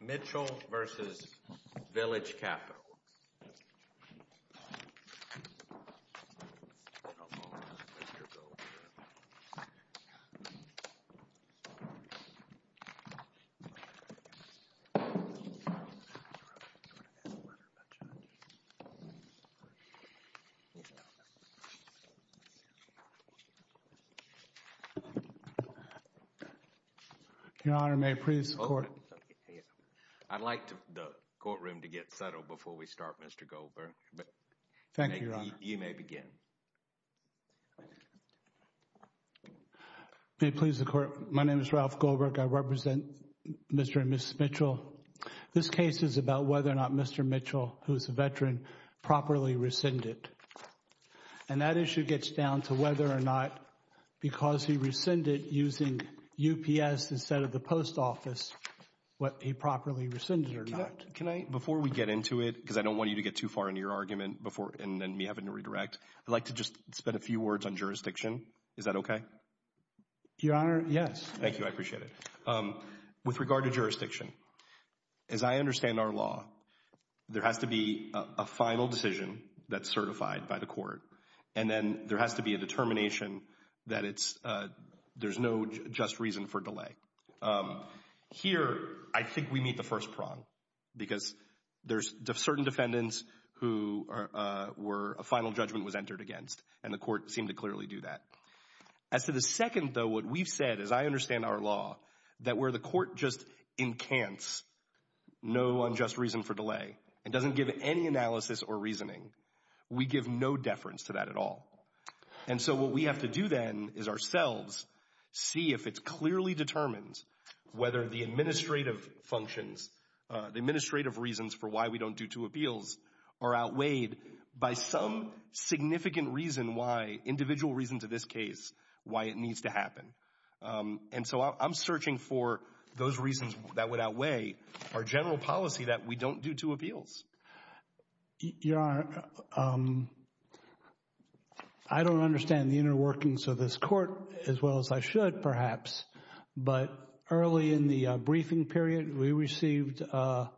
Mitchell v. Village Capital Your Honor, may it please the Court? I'd like the courtroom to get settled before we start, Mr. Goldberg. Thank you, Your Honor. You may begin. May it please the Court? My name is Ralph Goldberg. I represent Mr. and Mrs. Mitchell. This case is about whether or not Mr. Mitchell, who is a veteran, properly rescinded. And that issue gets down to whether or not, because he rescinded using UPS instead of the post office, what he properly rescinded or not. Can I, before we get into it, because I don't want you to get too far into your argument before, and then me having to redirect, I'd like to just spend a few words on jurisdiction. Is that okay? Your Honor, yes. Thank you. I appreciate it. With regard to jurisdiction, as I understand our law, there has to be a final decision that's certified by the court. And then there has to be a determination that there's no just reason for delay. Here, I think we meet the first prong, because there's certain defendants who a final judgment was entered against, and the court seemed to clearly do that. As to the second, though, what we've said, as I understand our law, that where the court just encants no unjust reason for delay and doesn't give any analysis or reasoning, we give no deference to that at all. And so what we have to do then is ourselves see if it's clearly determined whether the administrative functions, the administrative reasons for why we don't do two appeals are outweighed by some significant reason why, individual reason to this case, why it needs to happen. And so I'm searching for those reasons that would outweigh our general policy that we don't do two appeals. Your Honor, I don't understand the inner workings of this court as well as I should, perhaps. But early in the briefing period, we received a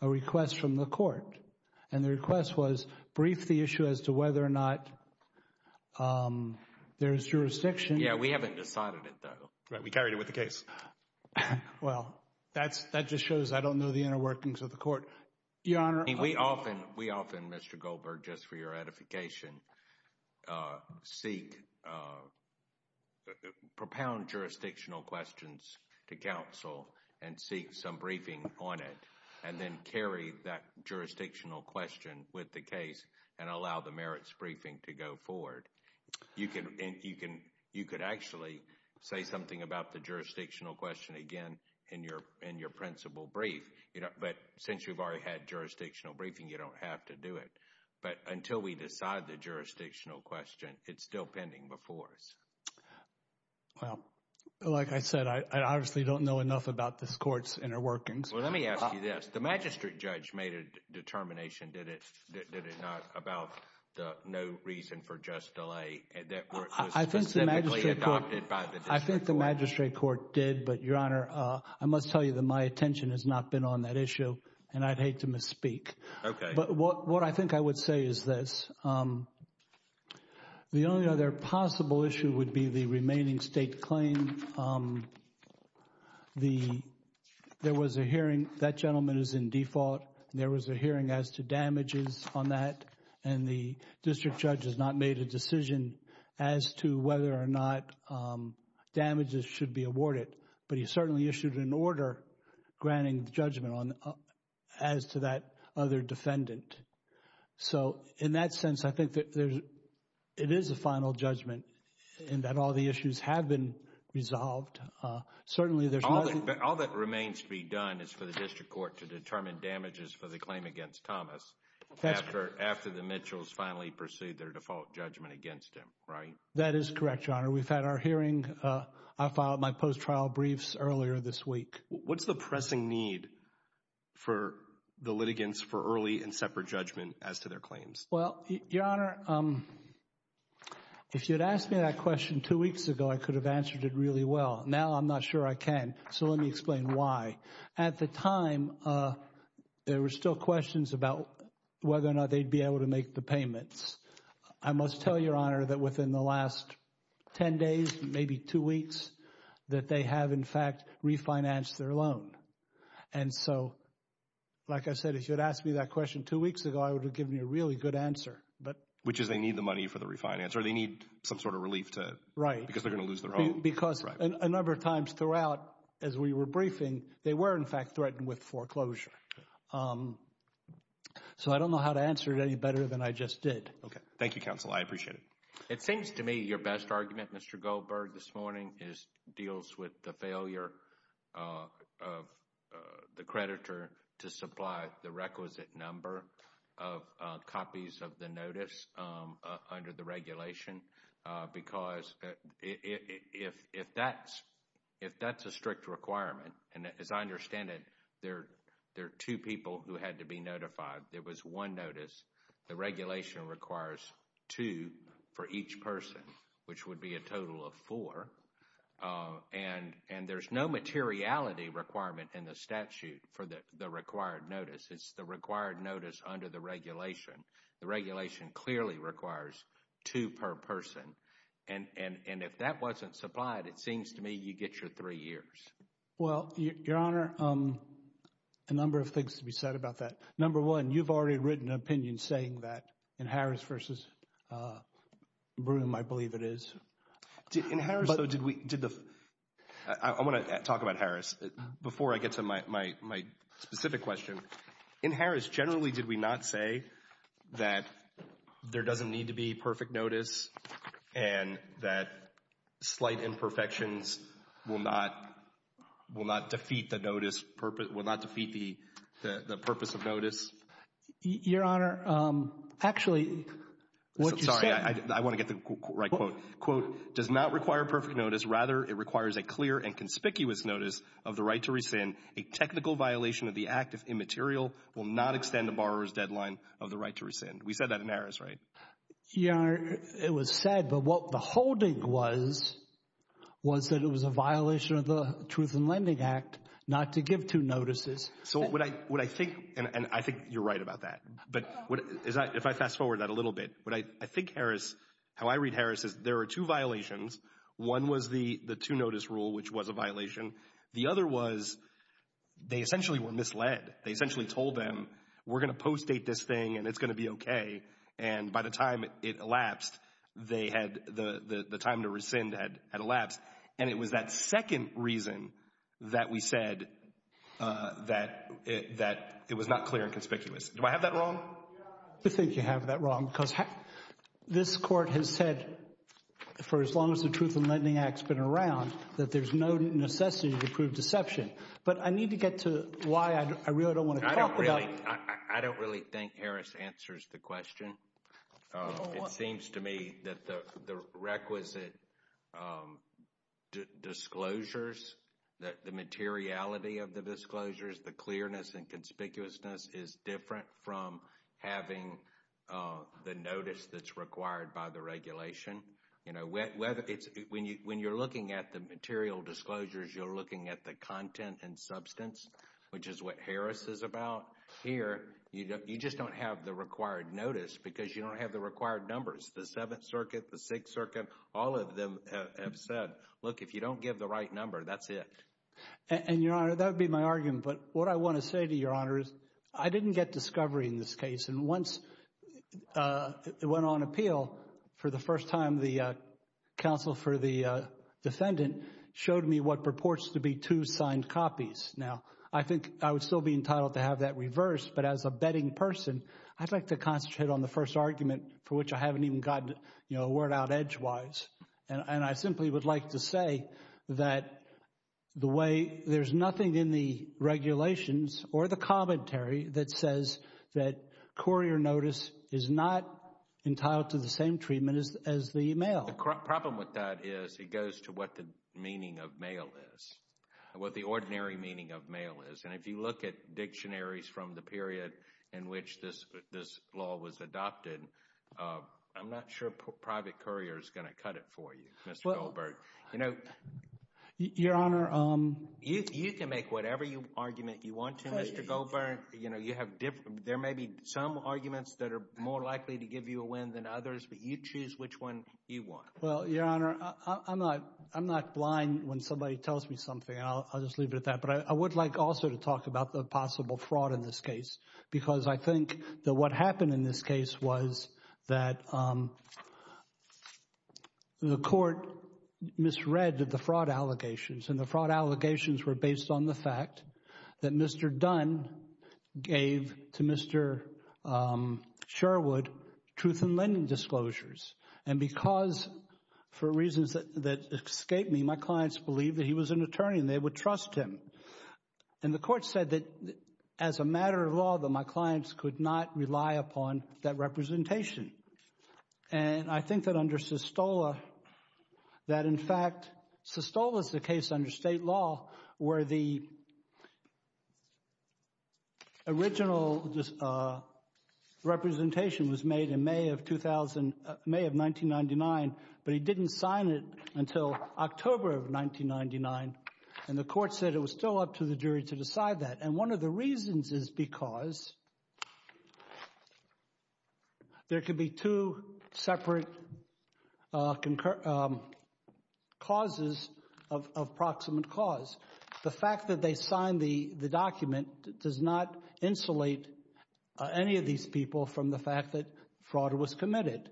request from the court, and the request was brief the issue as to whether or not there's jurisdiction. Yeah, we haven't decided it, though. Right, we carried it with the case. Well, that just shows I don't know the inner workings of the court. Your Honor— We often, Mr. Goldberg, just for your edification, seek, propound jurisdictional questions to counsel and seek some briefing on it and then carry that jurisdictional question with the case and allow the merits briefing to go forward. You could actually say something about the jurisdictional question again in your principal brief. But since you've already had jurisdictional briefing, you don't have to do it. But until we decide the jurisdictional question, it's still pending before us. Well, like I said, I obviously don't know enough about this court's inner workings. Well, let me ask you this. The magistrate judge made a determination, did it not, about the no reason for just delay that was specifically adopted by the district court. But, Your Honor, I must tell you that my attention has not been on that issue, and I'd hate to misspeak. Okay. But what I think I would say is this. The only other possible issue would be the remaining state claim. There was a hearing. That gentleman is in default. There was a hearing as to damages on that, and the district judge has not made a decision as to whether or not damages should be awarded. But he certainly issued an order granting judgment as to that other defendant. So, in that sense, I think that it is a final judgment and that all the issues have been resolved. Certainly, there's nothing. All that remains to be done is for the district court to determine damages for the claim against Thomas after the Mitchells finally proceed their default judgment against him, right? That is correct, Your Honor. We've had our hearing. I filed my post-trial briefs earlier this week. What's the pressing need for the litigants for early and separate judgment as to their claims? Well, Your Honor, if you'd asked me that question two weeks ago, I could have answered it really well. Now, I'm not sure I can, so let me explain why. At the time, there were still questions about whether or not they'd be able to make the payments. I must tell you, Your Honor, that within the last 10 days, maybe two weeks, that they have, in fact, refinanced their loan. And so, like I said, if you'd asked me that question two weeks ago, I would have given you a really good answer. Which is they need the money for the refinance or they need some sort of relief because they're going to lose their home. Because a number of times throughout, as we were briefing, they were, in fact, threatened with foreclosure. So I don't know how to answer it any better than I just did. Okay. Thank you, counsel. I appreciate it. It seems to me your best argument, Mr. Goldberg, this morning deals with the failure of the creditor to supply the requisite number of copies of the notice under the regulation. Because if that's a strict requirement, and as I understand it, there are two people who had to be notified. There was one notice. The regulation requires two for each person, which would be a total of four. And there's no materiality requirement in the statute for the required notice. It's the required notice under the regulation. The regulation clearly requires two per person. And if that wasn't supplied, it seems to me you get your three years. Well, Your Honor, a number of things to be said about that. Number one, you've already written an opinion saying that in Harris versus Broome, I believe it is. In Harris, though, did we – I want to talk about Harris before I get to my specific question. In Harris, generally, did we not say that there doesn't need to be perfect notice and that slight imperfections will not defeat the purpose of notice? Your Honor, actually, what you said – does not require perfect notice. Rather, it requires a clear and conspicuous notice of the right to rescind. A technical violation of the act, if immaterial, will not extend the borrower's deadline of the right to rescind. We said that in Harris, right? Your Honor, it was said, but what the holding was, was that it was a violation of the Truth in Lending Act not to give two notices. So what I think – and I think you're right about that. But if I fast-forward that a little bit, what I think Harris – how I read Harris is there are two violations. One was the two-notice rule, which was a violation. The other was they essentially were misled. They essentially told them, we're going to post-date this thing and it's going to be okay. And by the time it elapsed, they had – the time to rescind had elapsed. And it was that second reason that we said that it was not clear and conspicuous. Do I have that wrong? I think you have that wrong because this court has said for as long as the Truth in Lending Act has been around that there's no necessity to prove deception. But I need to get to why I really don't want to talk about it. I don't really think Harris answers the question. It seems to me that the requisite disclosures, the materiality of the disclosures, the clearness and conspicuousness is different from having the notice that's required by the regulation. When you're looking at the material disclosures, you're looking at the content and substance, which is what Harris is about. Here, you just don't have the required notice because you don't have the required numbers. The Seventh Circuit, the Sixth Circuit, all of them have said, look, if you don't give the right number, that's it. And, Your Honor, that would be my argument. But what I want to say to Your Honor is I didn't get discovery in this case. And once it went on appeal for the first time, the counsel for the defendant showed me what purports to be two signed copies. Now, I think I would still be entitled to have that reversed. But as a betting person, I'd like to concentrate on the first argument for which I haven't even gotten a word out edgewise. And I simply would like to say that the way there's nothing in the regulations or the commentary that says that courier notice is not entitled to the same treatment as the mail. The problem with that is it goes to what the meaning of mail is, what the ordinary meaning of mail is. And if you look at dictionaries from the period in which this law was adopted, I'm not sure private courier is going to cut it for you, Mr. Goldberg. You can make whatever argument you want to, Mr. Goldberg. There may be some arguments that are more likely to give you a win than others, but you choose which one you want. Well, Your Honor, I'm not blind when somebody tells me something. I'll just leave it at that. But I would like also to talk about the possible fraud in this case because I think that what happened in this case was that the court misread the fraud allegations. And the fraud allegations were based on the fact that Mr. Dunn gave to Mr. Sherwood truth in lending disclosures. And because for reasons that escaped me, my clients believed that he was an attorney and they would trust him. And the court said that as a matter of law that my clients could not rely upon that representation. And I think that under Sestola, that in fact Sestola's the case under state law where the original representation was made in May of 1999, but he didn't sign it until October of 1999. And the court said it was still up to the jury to decide that. And one of the reasons is because there could be two separate causes of proximate cause. The fact that they signed the document does not insulate any of these people from the fact that fraud was committed.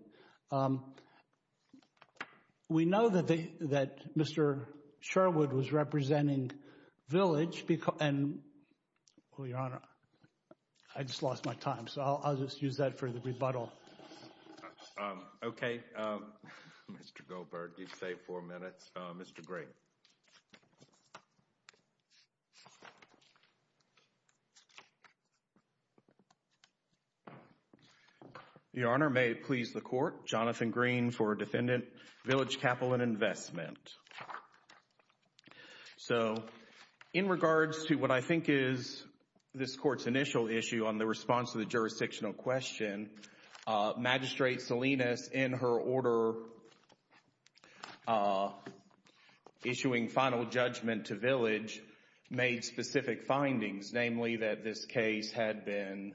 We know that Mr. Sherwood was representing Village. Oh, Your Honor, I just lost my time. So I'll just use that for the rebuttal. Okay. Mr. Goldberg, you've saved four minutes. Mr. Gray. Thank you, Your Honor. Your Honor, may it please the court. Jonathan Green for Defendant, Village Capital and Investment. So in regards to what I think is this court's initial issue on the response to the jurisdictional question, Magistrate Salinas, in her order issuing final judgment to Village, made specific findings, namely that this case had been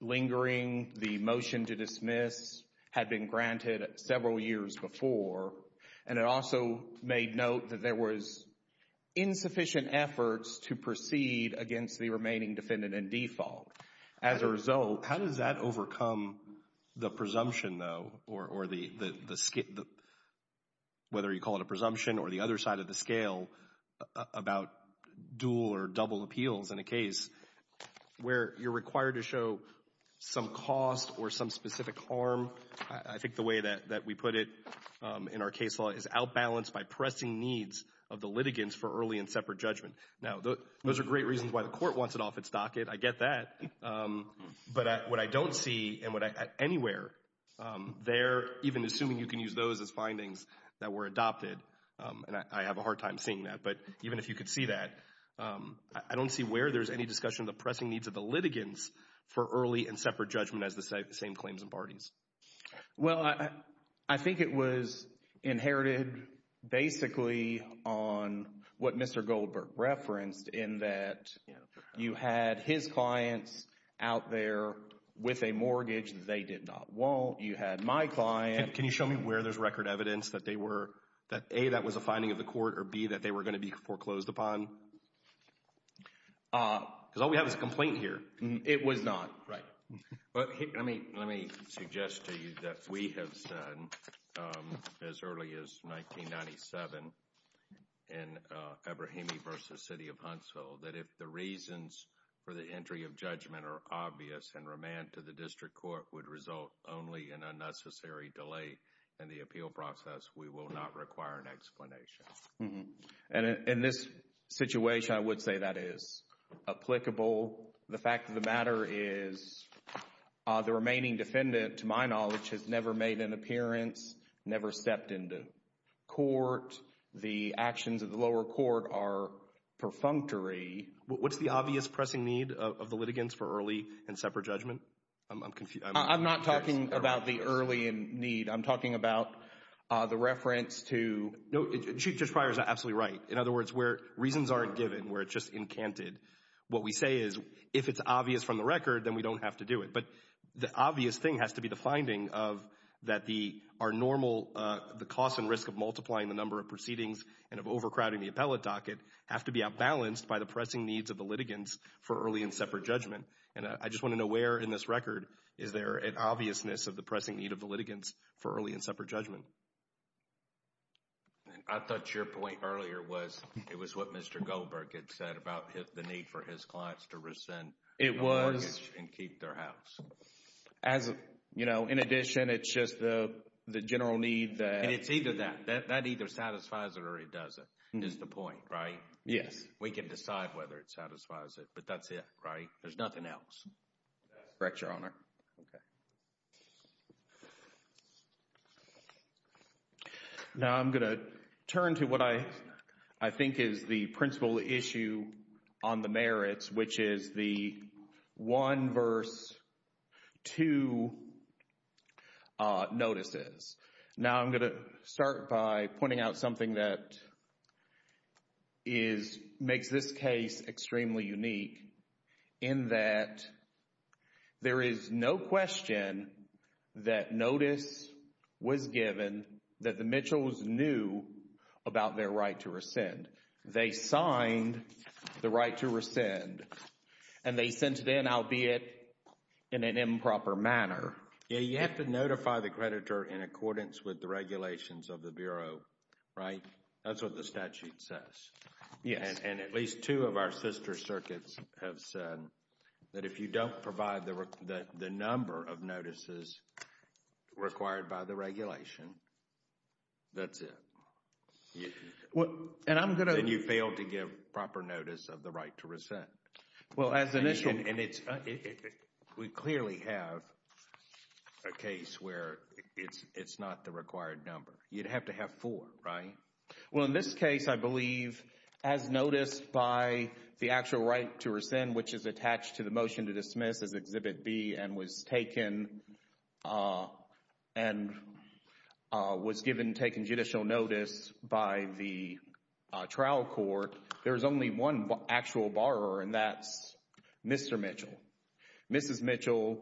lingering, the motion to dismiss had been granted several years before, and it also made note that there was insufficient efforts to proceed against the remaining defendant in default. As a result— How does that overcome the presumption, though, or the—whether you call it a presumption or the other side of the scale about dual or double appeals in a case where you're required to show some cost or some specific harm? Well, I think the way that we put it in our case law is outbalanced by pressing needs of the litigants for early and separate judgment. Now, those are great reasons why the court wants it off its docket. I get that. But what I don't see and what I—anywhere there, even assuming you can use those as findings that were adopted, and I have a hard time seeing that, but even if you could see that, I don't see where there's any discussion of the pressing needs of the litigants for early and separate judgment as the same claims and parties. Well, I think it was inherited basically on what Mr. Goldberg referenced in that you had his clients out there with a mortgage. They did not want. You had my client. Can you show me where there's record evidence that they were—that, A, that was a finding of the court, or, B, that they were going to be foreclosed upon? Because all we have is a complaint here. It was not. Right. Let me suggest to you that we have said as early as 1997 in Ebrahimi v. City of Huntsville that if the reasons for the entry of judgment are obvious and remand to the district court would result only in unnecessary delay in the appeal process, we will not require an explanation. And in this situation, I would say that is applicable. The fact of the matter is the remaining defendant, to my knowledge, has never made an appearance, never stepped into court. The actions of the lower court are perfunctory. What's the obvious pressing need of the litigants for early and separate judgment? I'm not talking about the early need. I'm talking about the reference to— No, Chief Judge Pryor is absolutely right. In other words, where reasons aren't given, where it's just incanted, what we say is if it's obvious from the record, then we don't have to do it. But the obvious thing has to be the finding of that the—our normal—the cost and risk of multiplying the number of proceedings and of overcrowding the appellate docket have to be outbalanced by the pressing needs of the litigants for early and separate judgment. And I just want to know where in this record is there an obviousness of the pressing need of the litigants for early and separate judgment. I thought your point earlier was it was what Mr. Goldberg had said about the need for his clients to rescind— It was. —the mortgage and keep their house. As a—you know, in addition, it's just the general need that— And it's either that. That either satisfies it or it doesn't is the point, right? Yes. We can decide whether it satisfies it, but that's it, right? There's nothing else. Correct, Your Honor. Okay. Now I'm going to turn to what I think is the principal issue on the merits, which is the 1 verse 2 notices. Now I'm going to start by pointing out something that is—makes this case extremely unique in that there is no question that notice was given that the Mitchells knew about their right to rescind. They signed the right to rescind, and they sent it in, albeit in an improper manner. Yeah, you have to notify the creditor in accordance with the regulations of the Bureau, right? That's what the statute says. Yes. And at least two of our sister circuits have said that if you don't provide the number of notices required by the regulation, that's it. And I'm going to— Then you fail to give proper notice of the right to rescind. Well, as initial— And it's—we clearly have a case where it's not the required number. You'd have to have four, right? Well, in this case, I believe, as noticed by the actual right to rescind, which is attached to the motion to dismiss as Exhibit B and was taken and was given—taken judicial notice by the trial court, there is only one actual borrower, and that's Mr. Mitchell. Mrs. Mitchell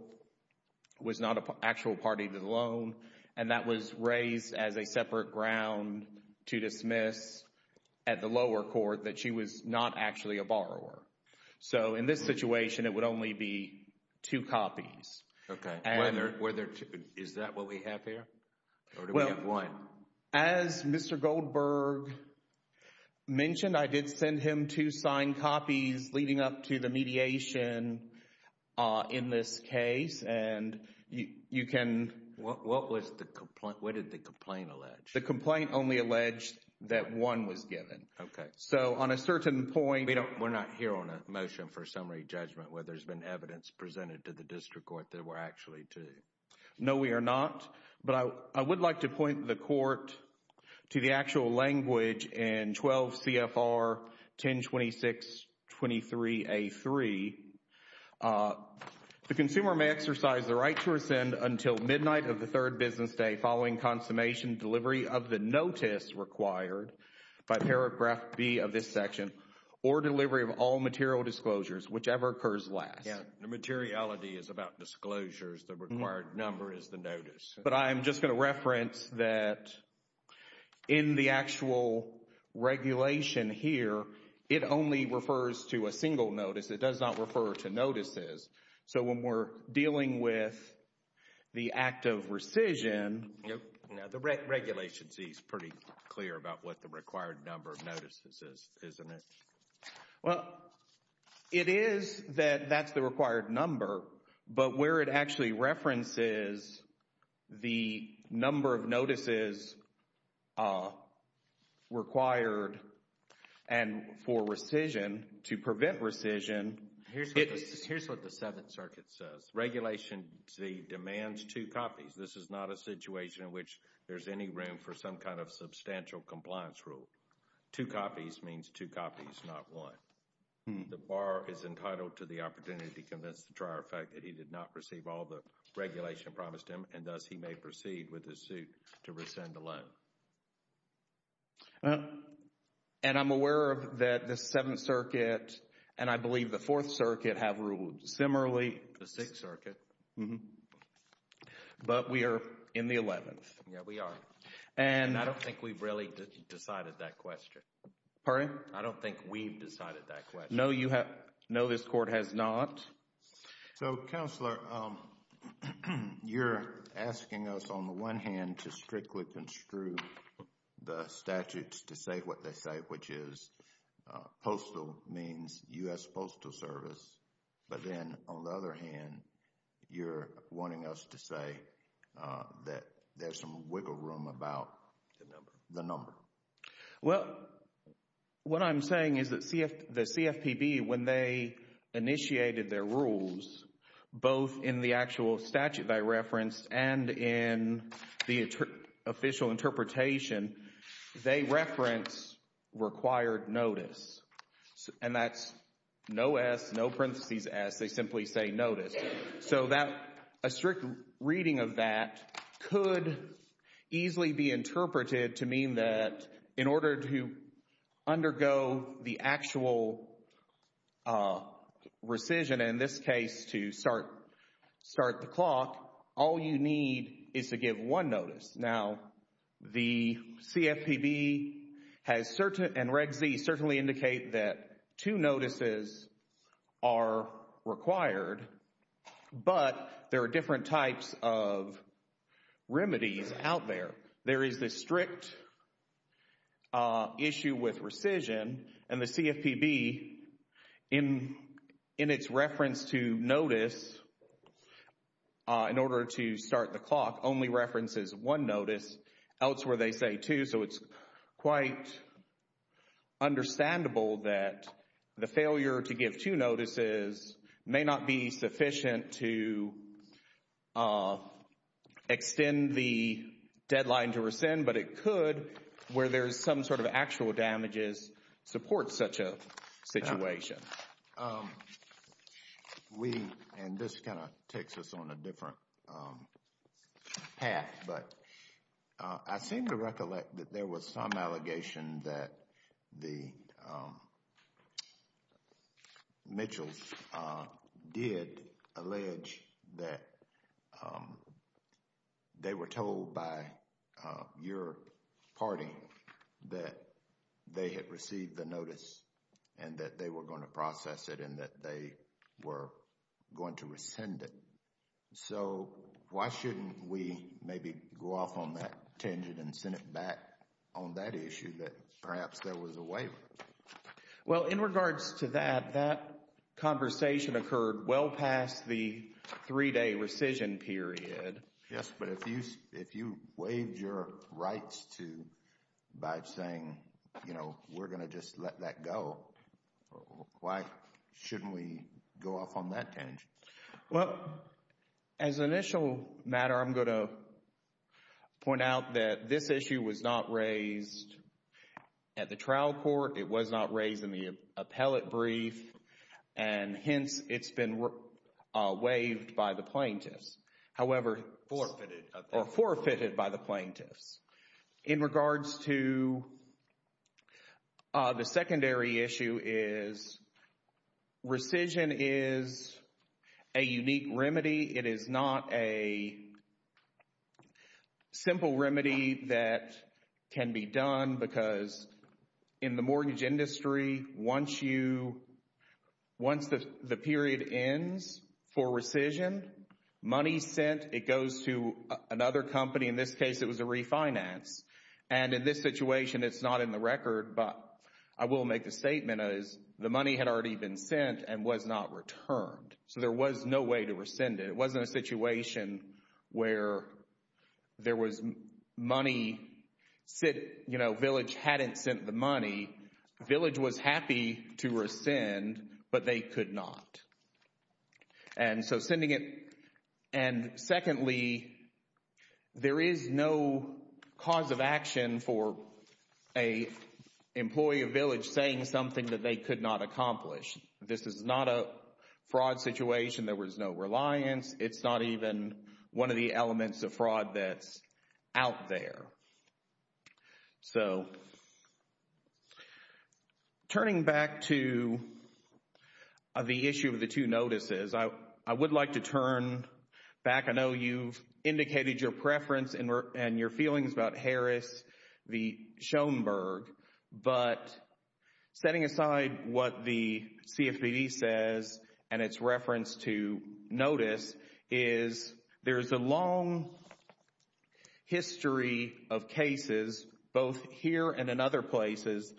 was not an actual party to the loan, and that was raised as a separate ground to dismiss at the lower court that she was not actually a borrower. So, in this situation, it would only be two copies. Okay. Were there—is that what we have here, or do we have one? As Mr. Goldberg mentioned, I did send him two signed copies leading up to the mediation in this case, and you can— What was the—what did the complaint allege? The complaint only alleged that one was given. Okay. So, on a certain point— We don't—we're not here on a motion for summary judgment where there's been evidence presented to the district court that there were actually two. No, we are not, but I would like to point the court to the actual language in 12 CFR 1026.23a.3. The consumer may exercise the right to rescind until midnight of the third business day following consummation, delivery of the notice required by paragraph B of this section, or delivery of all material disclosures, whichever occurs last. Yeah, the materiality is about disclosures. The required number is the notice. But I am just going to reference that in the actual regulation here, it only refers to a single notice. It does not refer to notices. So, when we're dealing with the act of rescission— Now, the regulation C is pretty clear about what the required number of notices is, isn't it? Well, it is that that's the required number, but where it actually references the number of notices required and for rescission, to prevent rescission— Here's what the Seventh Circuit says. Regulation C demands two copies. This is not a situation in which there's any room for some kind of substantial compliance rule. Two copies means two copies, not one. The borrower is entitled to the opportunity to convince the tryer of the fact that he did not receive all the regulation promised him, and thus he may proceed with the suit to rescind the loan. And I'm aware of that the Seventh Circuit and I believe the Fourth Circuit have ruled similarly. The Sixth Circuit. But we are in the Eleventh. Yeah, we are. And I don't think we've really decided that question. Pardon? I don't think we've decided that question. No, this Court has not. So, Counselor, you're asking us on the one hand to strictly construe the statutes to say what they say, which is postal means U.S. Postal Service. But then, on the other hand, you're wanting us to say that there's some wiggle room about the number. Well, what I'm saying is that the CFPB, when they initiated their rules, both in the actual statute they referenced and in the official interpretation, they referenced required notice. And that's no S, no parentheses S. They simply say notice. So a strict reading of that could easily be interpreted to mean that in order to undergo the actual rescission, in this case to start the clock, all you need is to give one notice. Now, the CFPB and Reg Z certainly indicate that two notices are required, but there are different types of remedies out there. There is the strict issue with rescission, and the CFPB, in its reference to notice, in order to start the clock, only references one notice. Elsewhere, they say two, so it's quite understandable that the failure to give two notices may not be sufficient to extend the deadline to rescind, but it could, where there's some sort of actual damages, support such a situation. We, and this kind of takes us on a different path, but I seem to recollect that there was some allegation that the Mitchells did allege that they were told by your party that they had received the notice and that they were going to process it and that they were going to rescind it. So why shouldn't we maybe go off on that tangent and send it back on that issue that perhaps there was a waiver? Well, in regards to that, that conversation occurred well past the three-day rescission period. Yes, but if you waived your rights by saying, you know, we're going to just let that go, why shouldn't we go off on that tangent? Well, as an initial matter, I'm going to point out that this issue was not raised at the trial court. It was not raised in the appellate brief, and hence it's been waived by the plaintiffs. However, forfeited by the plaintiffs. In regards to the secondary issue is rescission is a unique remedy. It is not a simple remedy that can be done because in the mortgage industry, once the period ends for rescission, money sent, it goes to another company. In this case, it was a refinance. And in this situation, it's not in the record, but I will make the statement as the money had already been sent and was not returned. So there was no way to rescind it. It wasn't a situation where there was money sent, you know, Village hadn't sent the money. Village was happy to rescind, but they could not. And so sending it, and secondly, there is no cause of action for an employee of Village saying something that they could not accomplish. This is not a fraud situation. There was no reliance. It's not even one of the elements of fraud that's out there. So turning back to the issue of the two notices, I would like to turn back. I know you've indicated your preference and your feelings about Harris v. Schoenberg. But setting aside what the CFPB says and its reference to notice is there's a long history of cases, both here and in other places,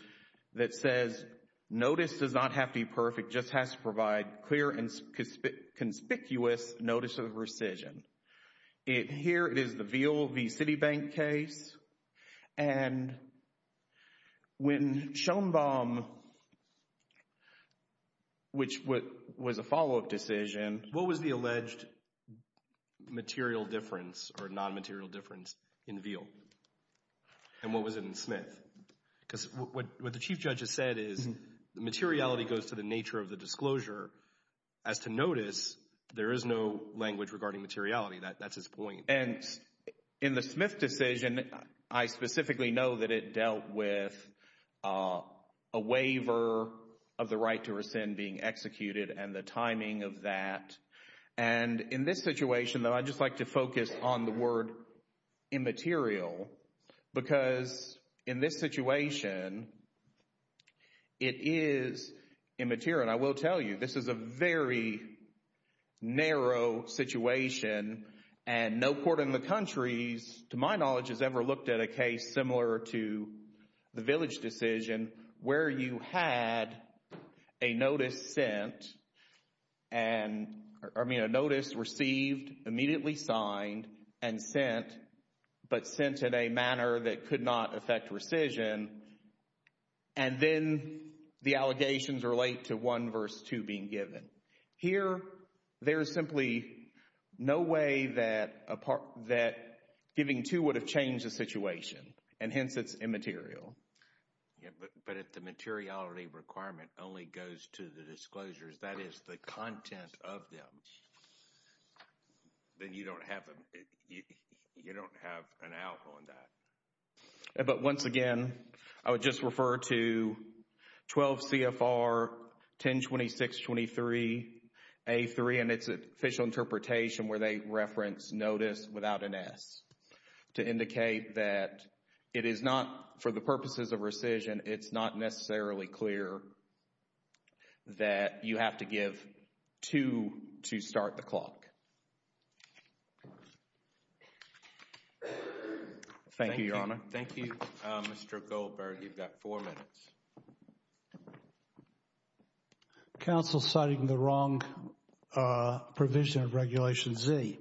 that says notice does not have to be perfect. It just has to provide clear and conspicuous notice of rescission. Here it is, the Veal v. Citibank case. And when Schoenbaum, which was a follow-up decision. What was the alleged material difference or non-material difference in Veal? And what was it in Smith? Because what the Chief Judge has said is the materiality goes to the nature of the disclosure. As to notice, there is no language regarding materiality. That's his point. And in the Smith decision, I specifically know that it dealt with a waiver of the right to rescind being executed and the timing of that. And in this situation, though, I'd just like to focus on the word immaterial because in this situation, it is immaterial. And I will tell you, this is a very narrow situation. And no court in the country, to my knowledge, has ever looked at a case similar to the Village decision where you had a notice sent and, I mean, a notice received, immediately signed and sent, but sent in a manner that could not affect rescission. And then the allegations relate to 1 verse 2 being given. Here, there is simply no way that giving 2 would have changed the situation, and hence it's immaterial. But if the materiality requirement only goes to the disclosures, that is the content of them, then you don't have an out on that. But once again, I would just refer to 12 CFR 1026.23 A3, and it's an official interpretation where they reference notice without an S to indicate that it is not, for the purposes of rescission, it's not necessarily clear that you have to give 2 to start the clock. Thank you, Your Honor. Thank you, Mr. Goldberg. You've got 4 minutes. Counsel citing the wrong provision of Regulation Z.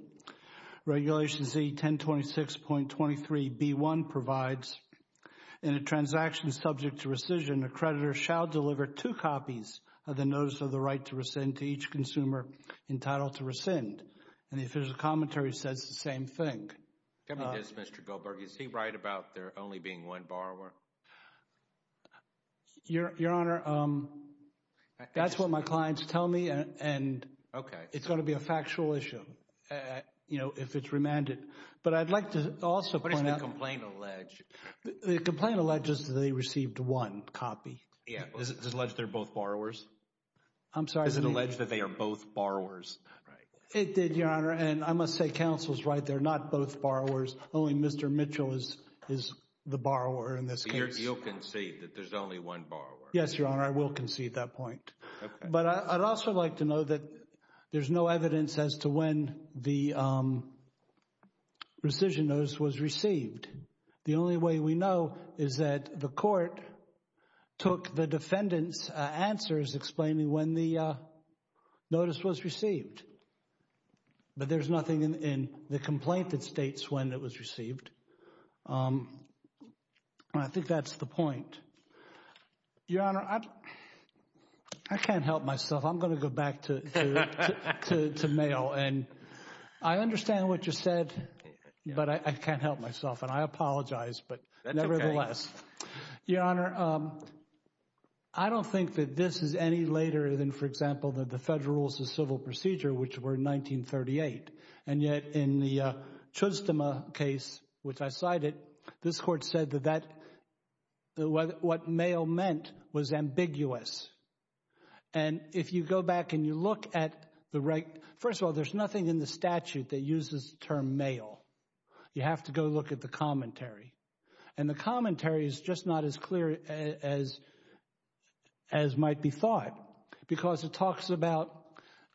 Regulation Z 1026.23 B1 provides, in a transaction subject to rescission, the creditor shall deliver 2 copies of the notice of the right to rescind to each consumer entitled to rescind. And the official commentary says the same thing. Tell me this, Mr. Goldberg. Your Honor, that's what my clients tell me, and it's going to be a factual issue, you know, if it's remanded. But I'd like to also point out. What does the complaint allege? The complaint alleges that they received one copy. Yeah. Does it allege they're both borrowers? I'm sorry? Does it allege that they are both borrowers? Right. It did, Your Honor. And I must say, Counsel's right. They're not both borrowers. Only Mr. Mitchell is the borrower in this case. So you'll concede that there's only one borrower? Yes, Your Honor. I will concede that point. Okay. But I'd also like to note that there's no evidence as to when the rescission notice was received. The only way we know is that the court took the defendant's answers explaining when the notice was received. But there's nothing in the complaint that states when it was received. And I think that's the point. Your Honor, I can't help myself. I'm going to go back to mail. And I understand what you said, but I can't help myself. And I apologize, but nevertheless. That's okay. Your Honor, I don't think that this is any later than, for example, the Federal Rules of Civil Procedure, which were in 1938. And yet in the Chustema case, which I cited, this court said that what mail meant was ambiguous. And if you go back and you look at the right – first of all, there's nothing in the statute that uses the term mail. You have to go look at the commentary. And the commentary is just not as clear as might be thought because it talks about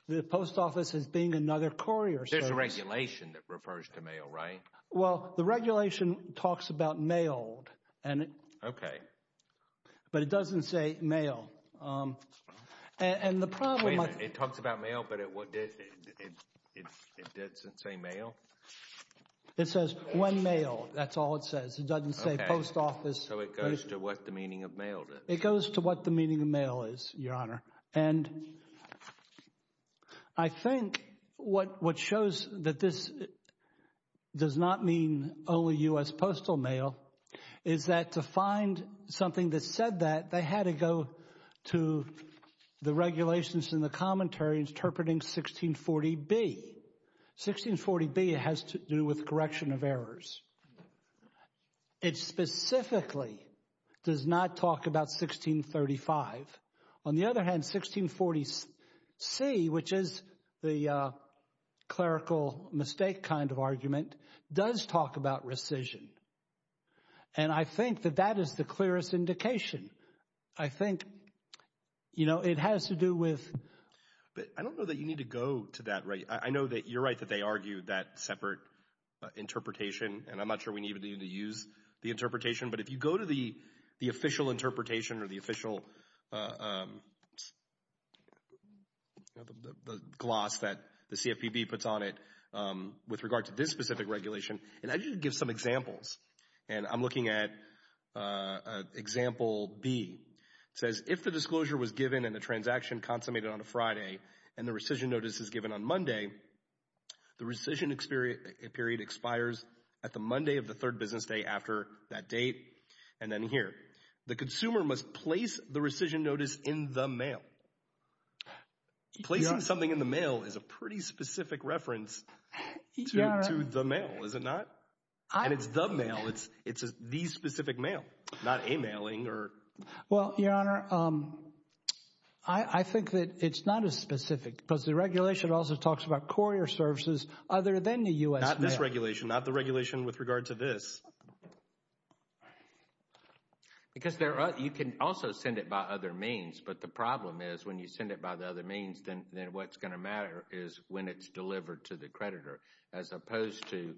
the post office as being another courier service. There's a regulation that refers to mail, right? Well, the regulation talks about mailed. Okay. But it doesn't say mail. And the problem – Wait a minute. It talks about mail, but it doesn't say mail? It says when mailed. That's all it says. It doesn't say post office. So it goes to what the meaning of mail is. It goes to what the meaning of mail is, Your Honor. And I think what shows that this does not mean only U.S. postal mail is that to find something that said that, they had to go to the regulations in the commentary interpreting 1640B. 1640B has to do with correction of errors. It specifically does not talk about 1635. On the other hand, 1640C, which is the clerical mistake kind of argument, does talk about rescission. And I think that that is the clearest indication. I think, you know, it has to do with – But I don't know that you need to go to that. I know that you're right that they argue that separate interpretation, and I'm not sure we need to use the interpretation. But if you go to the official interpretation or the official gloss that the CFPB puts on it with regard to this specific regulation, and I just give some examples, and I'm looking at example B. It says, if the disclosure was given and the transaction consummated on a Friday and the rescission notice is given on Monday, the rescission period expires at the Monday of the third business day after that date. And then here, the consumer must place the rescission notice in the mail. Placing something in the mail is a pretty specific reference to the mail, is it not? And it's the mail. It's the specific mail, not a mailing or – Well, Your Honor, I think that it's not as specific because the regulation also talks about courier services other than the U.S. mail. Not this regulation, not the regulation with regard to this. Because you can also send it by other means, but the problem is when you send it by the other means, then what's going to matter is when it's delivered to the creditor as opposed to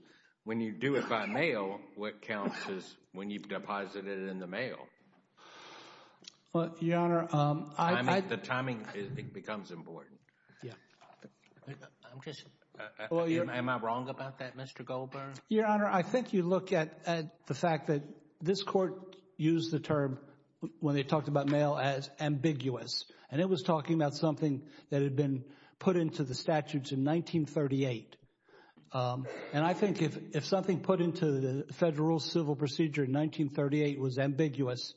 when you do it by mail, what counts is when you've deposited it in the mail. Well, Your Honor, I – The timing becomes important. Yeah. I'm just – am I wrong about that, Mr. Goldberg? Your Honor, I think you look at the fact that this Court used the term when they talked about mail as ambiguous, and it was talking about something that had been put into the statutes in 1938. And I think if something put into the Federal Rules of Civil Procedure in 1938 was ambiguous,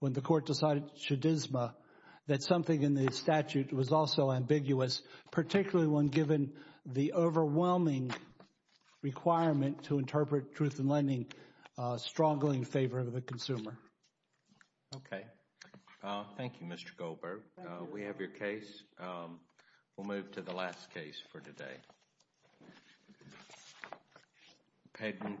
when the Court decided chaudisme, that something in the statute was also ambiguous, particularly when given the overwhelming requirement to interpret truth in lending, a strongly in favor of the consumer. Okay. Thank you, Mr. Goldberg. We have your case. We'll move to the last case for today.